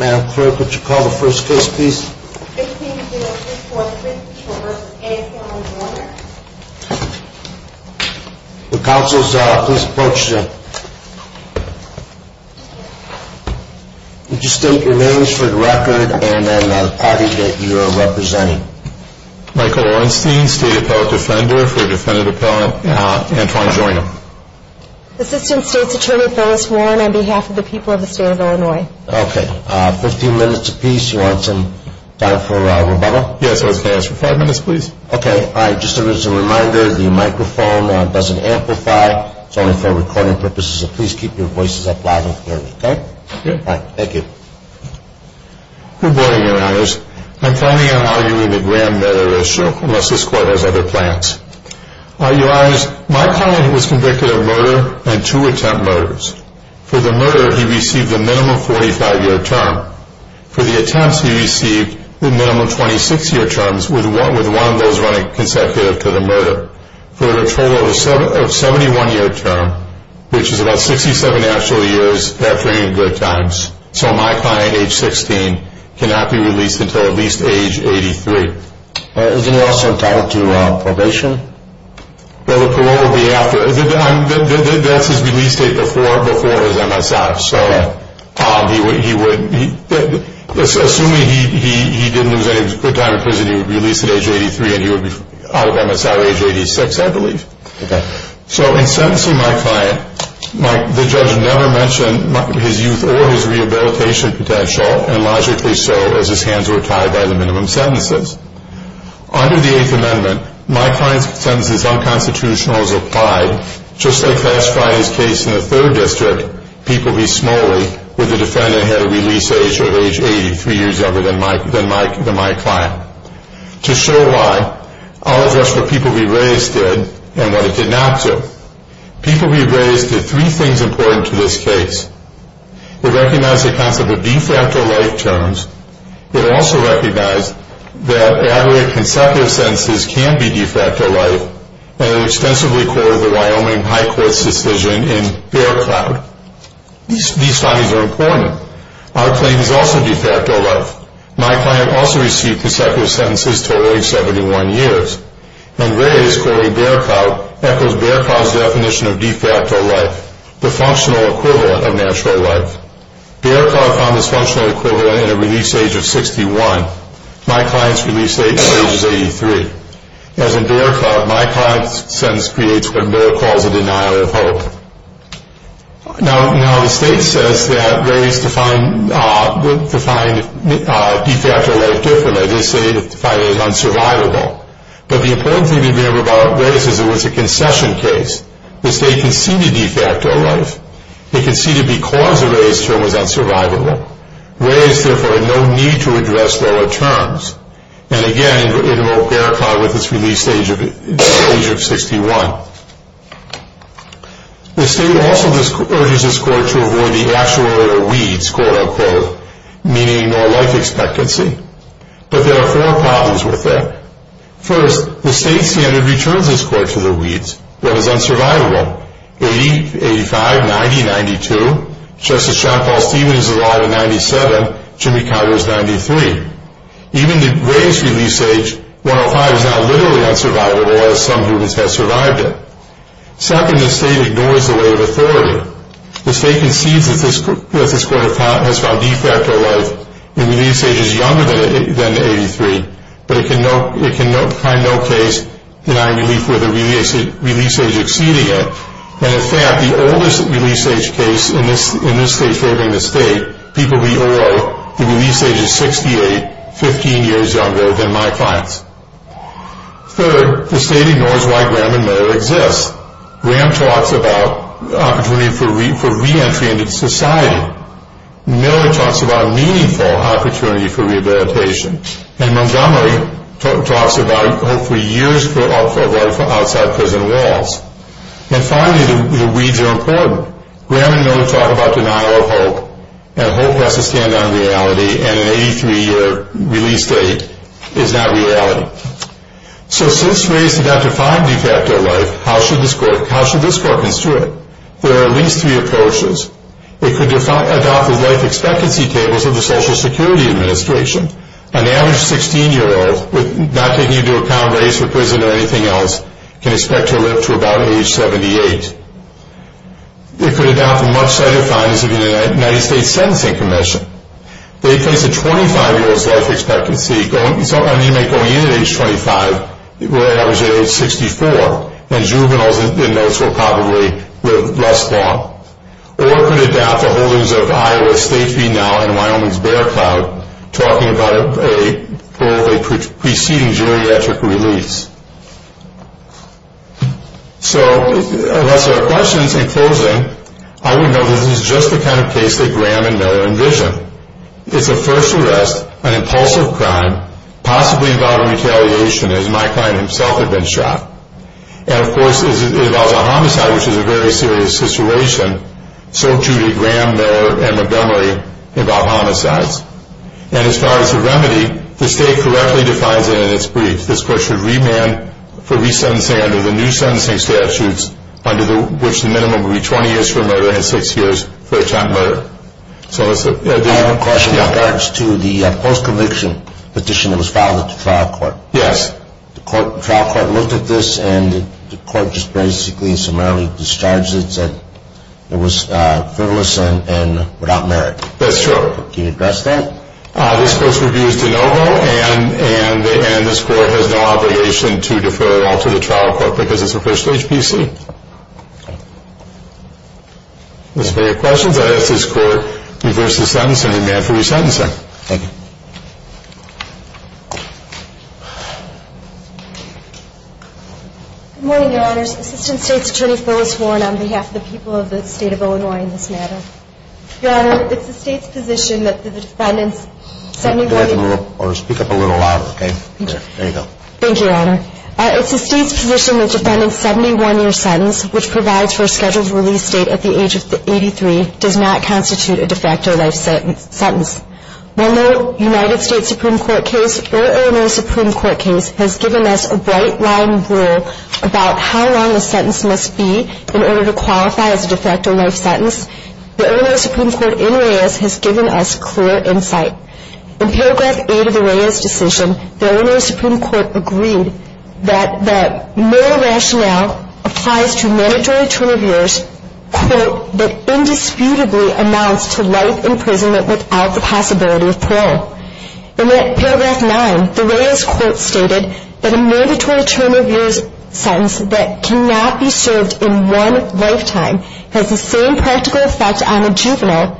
Madam Clerk, would you call the first case, please? 16-0-3454 v. Antwine Joiner The counsels, please approach them. Would you state your names for the record and the party that you are representing? Michael Orenstein, State Appellate Defender for Defendant Appellant Antwine Joiner Assistant State's Attorney, Phyllis Warren, on behalf of the people of the state of Illinois. Good morning, Your Honors. I'm filing an argument with Graham that I will show unless this Court has other plans. Your Honors, my client was convicted of murder and two attempt murders. For the murder, he received a minimum 45-year term. For the attempts, he received the minimum 26-year terms, with one of those running consecutive to the murder. For a total of 71-year term, which is about 67 actual years, that brings in good times. So my client, age 16, cannot be released until at least age 83. Isn't he also entitled to probation? The parole will be after. That's his release date before his MSI. Assuming he didn't lose any good time in prison, he would be released at age 83 and he would be out of MSI at age 86, I believe. So in sentencing my client, the judge never mentioned his youth or his rehabilitation potential, and logically so, as his hands were tied by the minimum sentences. Under the Eighth Amendment, my client's sentence is unconstitutional as applied, just like last Friday's case in the Third District, People v. Smalley, where the defendant had a release age of age 83 years younger than my client. To show why, I'll address what People v. Reyes did and what it did not do. People v. Reyes did three things important to this case. It recognized the concept of de facto life terms. It also recognized that aggregate consecutive sentences can be de facto life, and it extensively quoted the Wyoming High Court's decision in Bear Cloud. These findings are important. Our claim is also de facto life. My client also received consecutive sentences totaling 71 years. And Reyes quoting Bear Cloud echoes Bear Cloud's definition of de facto life, the functional equivalent of natural life. Bear Cloud found this functional equivalent at a release age of 61. My client's release age is 83. As in Bear Cloud, my client's sentence creates what Miller calls a denial of hope. Now the state says that Reyes defined de facto life differently. They say it is unsurvivable. But the important thing to remember about Reyes is it was a concession case. The state conceded de facto life. It conceded because a Reyes term was unsurvivable. Reyes therefore had no need to address lower terms. And again, it invoked Bear Cloud with its release age of 61. The state also urges this court to avoid the actual or weeds, quote unquote, meaning no life expectancy. But there are four problems with that. First, the state standard returns this court to the weeds. That is unsurvivable. 80, 85, 90, 92. Justice John Paul Stevens is alive at 97. Jimmy Carter is 93. Even the Reyes release age, 105, is not literally unsurvivable, as some humans have survived it. Second, the state ignores the way of authority. The state concedes that this court has found de facto life when the release age is younger than 83. But it can find no case denying relief with a release age exceeding it. And, in fact, the oldest release age case in this state favoring the state, people we owe, the release age is 68, 15 years younger than my clients. Third, the state ignores why Graham and Miller exist. Graham talks about opportunity for reentry into society. Miller talks about meaningful opportunity for rehabilitation. And Montgomery talks about hopefully years of life outside prison walls. And, finally, the weeds are important. Graham and Miller talk about denial of hope. And hope has to stand on reality, and an 83-year release date is not reality. So since Reyes did not define de facto life, how should this court construe it? There are at least three approaches. It could adopt the life expectancy tables of the Social Security Administration. An average 16-year-old, not taking into account race or prison or anything else, can expect to live to about age 78. It could adopt the much-cited findings of the United States Sentencing Commission. They place a 25-year-old's life expectancy, going into age 25, will average at age 64, and juveniles in those will probably live less long. Or it could adopt the holdings of Iowa State Feed Now and Wyoming's Bear Cloud, talking about a preceding geriatric release. So unless there are questions, in closing, I would note that this is just the kind of case that Graham and Miller envision. It's a first arrest, an impulsive crime, possibly involving retaliation, as my client himself had been shot. And, of course, it involves a homicide, which is a very serious situation. So, too, did Graham, Miller, and Montgomery involve homicides. And as far as the remedy, the state correctly defines it in its brief. This court should remand for resentencing under the new sentencing statutes, under which the minimum would be 20 years for murder and six years for attempt murder. I have a question in regards to the post-conviction petition that was filed at the trial court. Yes. The trial court looked at this, and the court just basically and summarily discharged it, and said it was frivolous and without merit. That's true. Can you address that? This court's review is de novo, and this court has no obligation to defer or alter the trial court because it's a first-stage PC. As far as your questions, I'd ask this court to reverse the sentence and remand for resentencing. Thank you. Good morning, Your Honors. Assistant State's Attorney Phyllis Warren on behalf of the people of the state of Illinois in this matter. Your Honor, it's the state's position that the defendant's 71-year- Speak up a little louder, okay? There you go. Thank you, Your Honor. It's the state's position that the defendant's 71-year sentence, which provides for a scheduled release date at the age of 83, does not constitute a de facto life sentence. While no United States Supreme Court case or Illinois Supreme Court case has given us a bright-line rule about how long a sentence must be in order to qualify as a de facto life sentence, the Illinois Supreme Court in Reyes has given us clear insight. In Paragraph 8 of the Reyes decision, the Illinois Supreme Court agreed that no rationale applies to mandatory term of years, quote, that indisputably amounts to life imprisonment without the possibility of parole. In Paragraph 9, the Reyes quote stated that a mandatory term of years sentence that cannot be served in one lifetime has the same practical effect on a juvenile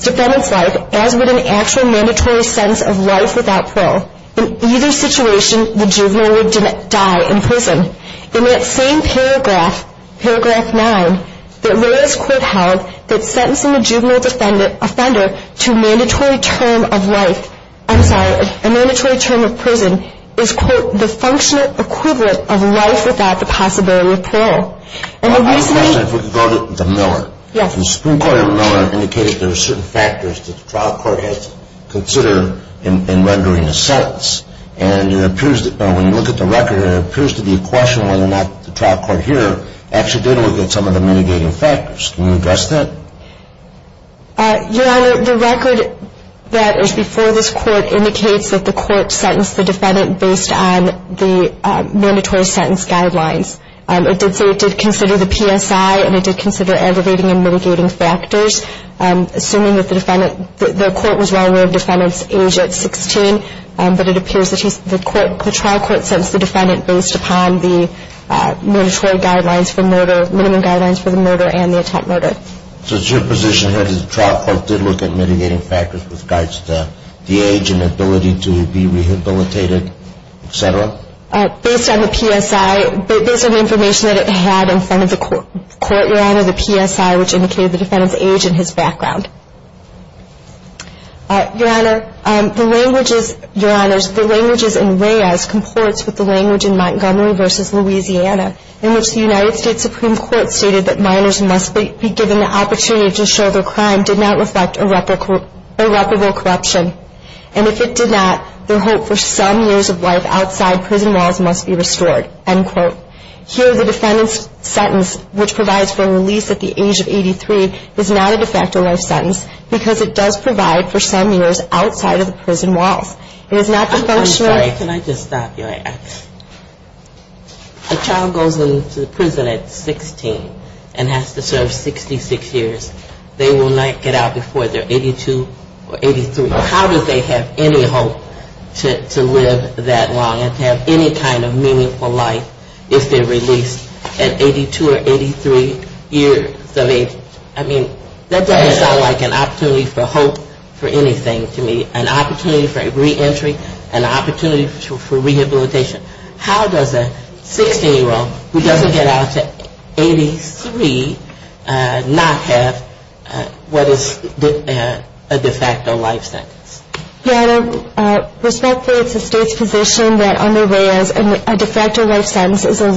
defendant's life as would an actual mandatory sentence of life without parole. In either situation, the juvenile would die in prison. In that same paragraph, Paragraph 9, the Reyes quote held that sentencing a juvenile offender to a mandatory term of life, I'm sorry, a mandatory term of prison, is, quote, the functional equivalent of life without the possibility of parole. And the reason I say, if we could go to the Miller. Yes. The Supreme Court in Miller indicated there are certain factors that the trial court has to consider in rendering a sentence. And it appears that when you look at the record, it appears to be a question whether or not the trial court here actually did look at some of the mitigating factors. Can you address that? Your Honor, the record that is before this court indicates that the court sentenced the defendant based on the mandatory sentence guidelines. It did say it did consider the PSI and it did consider aggravating and mitigating factors. Assuming that the defendant, the court was well aware of the defendant's age at 16, but it appears that the trial court sentenced the defendant based upon the mandatory guidelines for murder, minimum guidelines for the murder, and the attempt murder. So it's your position here that the trial court did look at mitigating factors with regards to the age and ability to be rehabilitated, et cetera? Based on the PSI, based on the information that it had in front of the court, Your Honor, the PSI, which indicated the defendant's age and his background. Your Honor, the languages in Reyes comports with the language in Montgomery v. Louisiana, in which the United States Supreme Court stated that minors must be given the opportunity to show their crime did not reflect irreparable corruption. And if it did not, their hope for some years of life outside prison walls must be restored, end quote. Here, the defendant's sentence, which provides for a release at the age of 83, is not a de facto life sentence, because it does provide for some years outside of the prison walls. It is not the functional. I'm sorry. Can I just stop you? A child goes into the prison at 16 and has to serve 66 years. They will not get out before they're 82 or 83. How do they have any hope to live that long and have any kind of meaningful life if they're released at 82 or 83 years of age? I mean, that doesn't sound like an opportunity for hope for anything to me, an opportunity for reentry, an opportunity for rehabilitation. How does a 16-year-old who doesn't get out to 83 not have what is a de facto life sentence? Yeah, respectfully, it's the state's position that on their way out, a de facto life sentence is a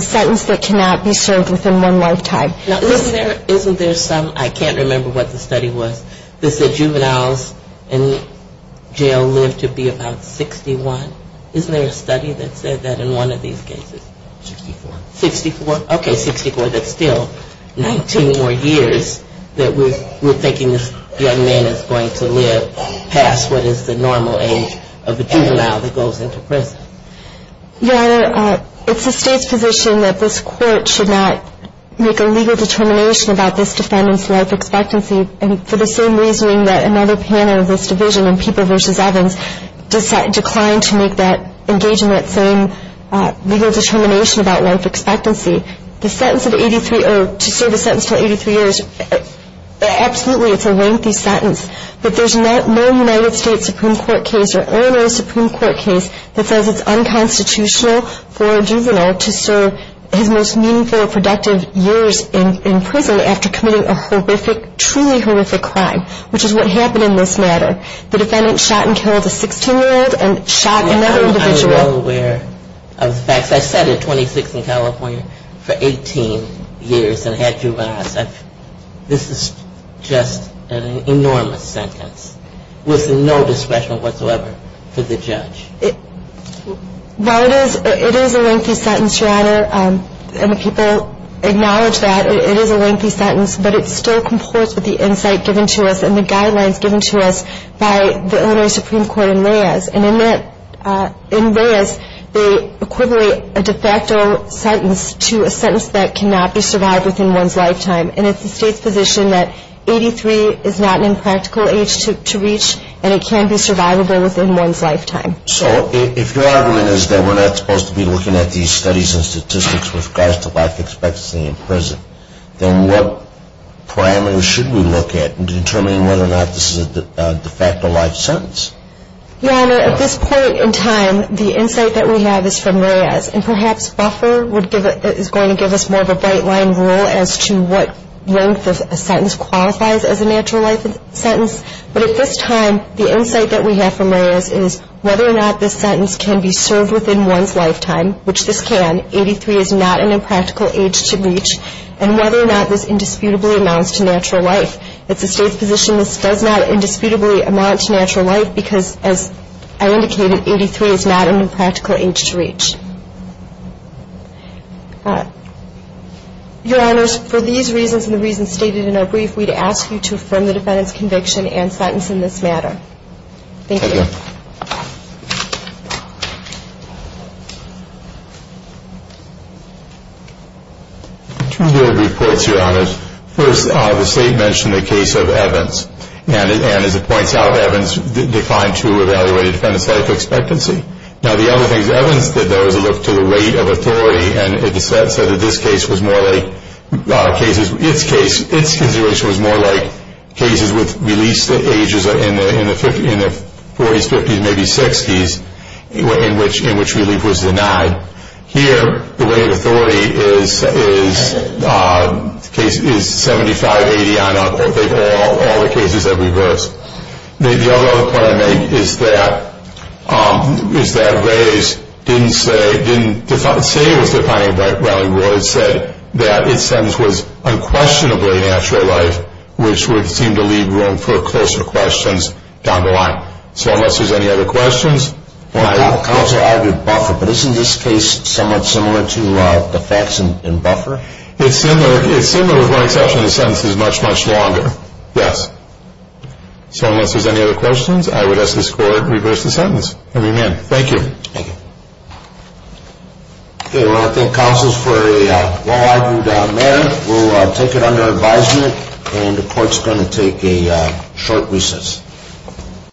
sentence that cannot be served within one lifetime. Now, isn't there some, I can't remember what the study was, that said juveniles in jail live to be about 61? Isn't there a study that said that in one of these cases? 64. 64? Okay, 64. But it's still 19 more years that we're thinking this young man is going to live past what is the normal age of a juvenile that goes into prison. Your Honor, it's the state's position that this court should not make a legal determination about this defendant's life expectancy, and for the same reasoning that another panel of this division in People v. Evans declined to make that engagement saying legal determination about life expectancy. The sentence of 83, or to serve a sentence until 83 years, absolutely it's a lengthy sentence, but there's no United States Supreme Court case or Illinois Supreme Court case that says it's unconstitutional for a juvenile to serve his most meaningful or productive years in prison after committing a horrific, truly horrific crime, which is what happened in this matter. The defendant shot and killed a 16-year-old and shot another individual. Are you all aware of the facts? I sat at 26 in California for 18 years and had juveniles. This is just an enormous sentence with no discretion whatsoever for the judge. Well, it is a lengthy sentence, Your Honor, and the people acknowledge that. It is a lengthy sentence, but it still comports with the insight given to us and the guidelines given to us by the Illinois Supreme Court in Reyes. And in Reyes, they equivalent a de facto sentence to a sentence that cannot be survived within one's lifetime. And it's the State's position that 83 is not an impractical age to reach, and it can be survivable within one's lifetime. So if your argument is that we're not supposed to be looking at these studies and statistics with regards to life expectancy in prison, then what parameters should we look at in determining whether or not this is a de facto life sentence? Your Honor, at this point in time, the insight that we have is from Reyes. And perhaps buffer is going to give us more of a bright-line rule as to what length of a sentence qualifies as a natural life sentence. But at this time, the insight that we have from Reyes is whether or not this sentence can be served within one's lifetime, which this can, 83 is not an impractical age to reach, and whether or not this indisputably amounts to natural life. It's the State's position this does not indisputably amount to natural life because, as I indicated, 83 is not an impractical age to reach. Your Honors, for these reasons and the reasons stated in our brief, we'd ask you to affirm the defendant's conviction and sentence in this matter. Thank you. Two reports, Your Honors. First, the State mentioned the case of Evans. And, as it points out, Evans declined to evaluate a defendant's life expectancy. Now, the other thing is Evans did, though, is look to the rate of authority and said that this case was more like cases, its consideration was more like cases with released ages in the 40s, 50s, maybe 60s, in which relief was denied. Here, the rate of authority is 75-80 on all the cases that we've heard. The other point I make is that Rays didn't say, didn't say it was defined by Riley-Royd, said that its sentence was unquestionably natural life, which would seem to leave room for closer questions down the line. So, unless there's any other questions. Counsel argued buffer, but isn't this case somewhat similar to the facts in buffer? It's similar with one exception. The sentence is much, much longer. Yes. So, unless there's any other questions, I would ask this Court to reverse the sentence. And we're adjourned. Thank you. Thank you. We want to thank counsels for a well-argued matter. We'll take it under advisement. And the Court's going to take a short recess.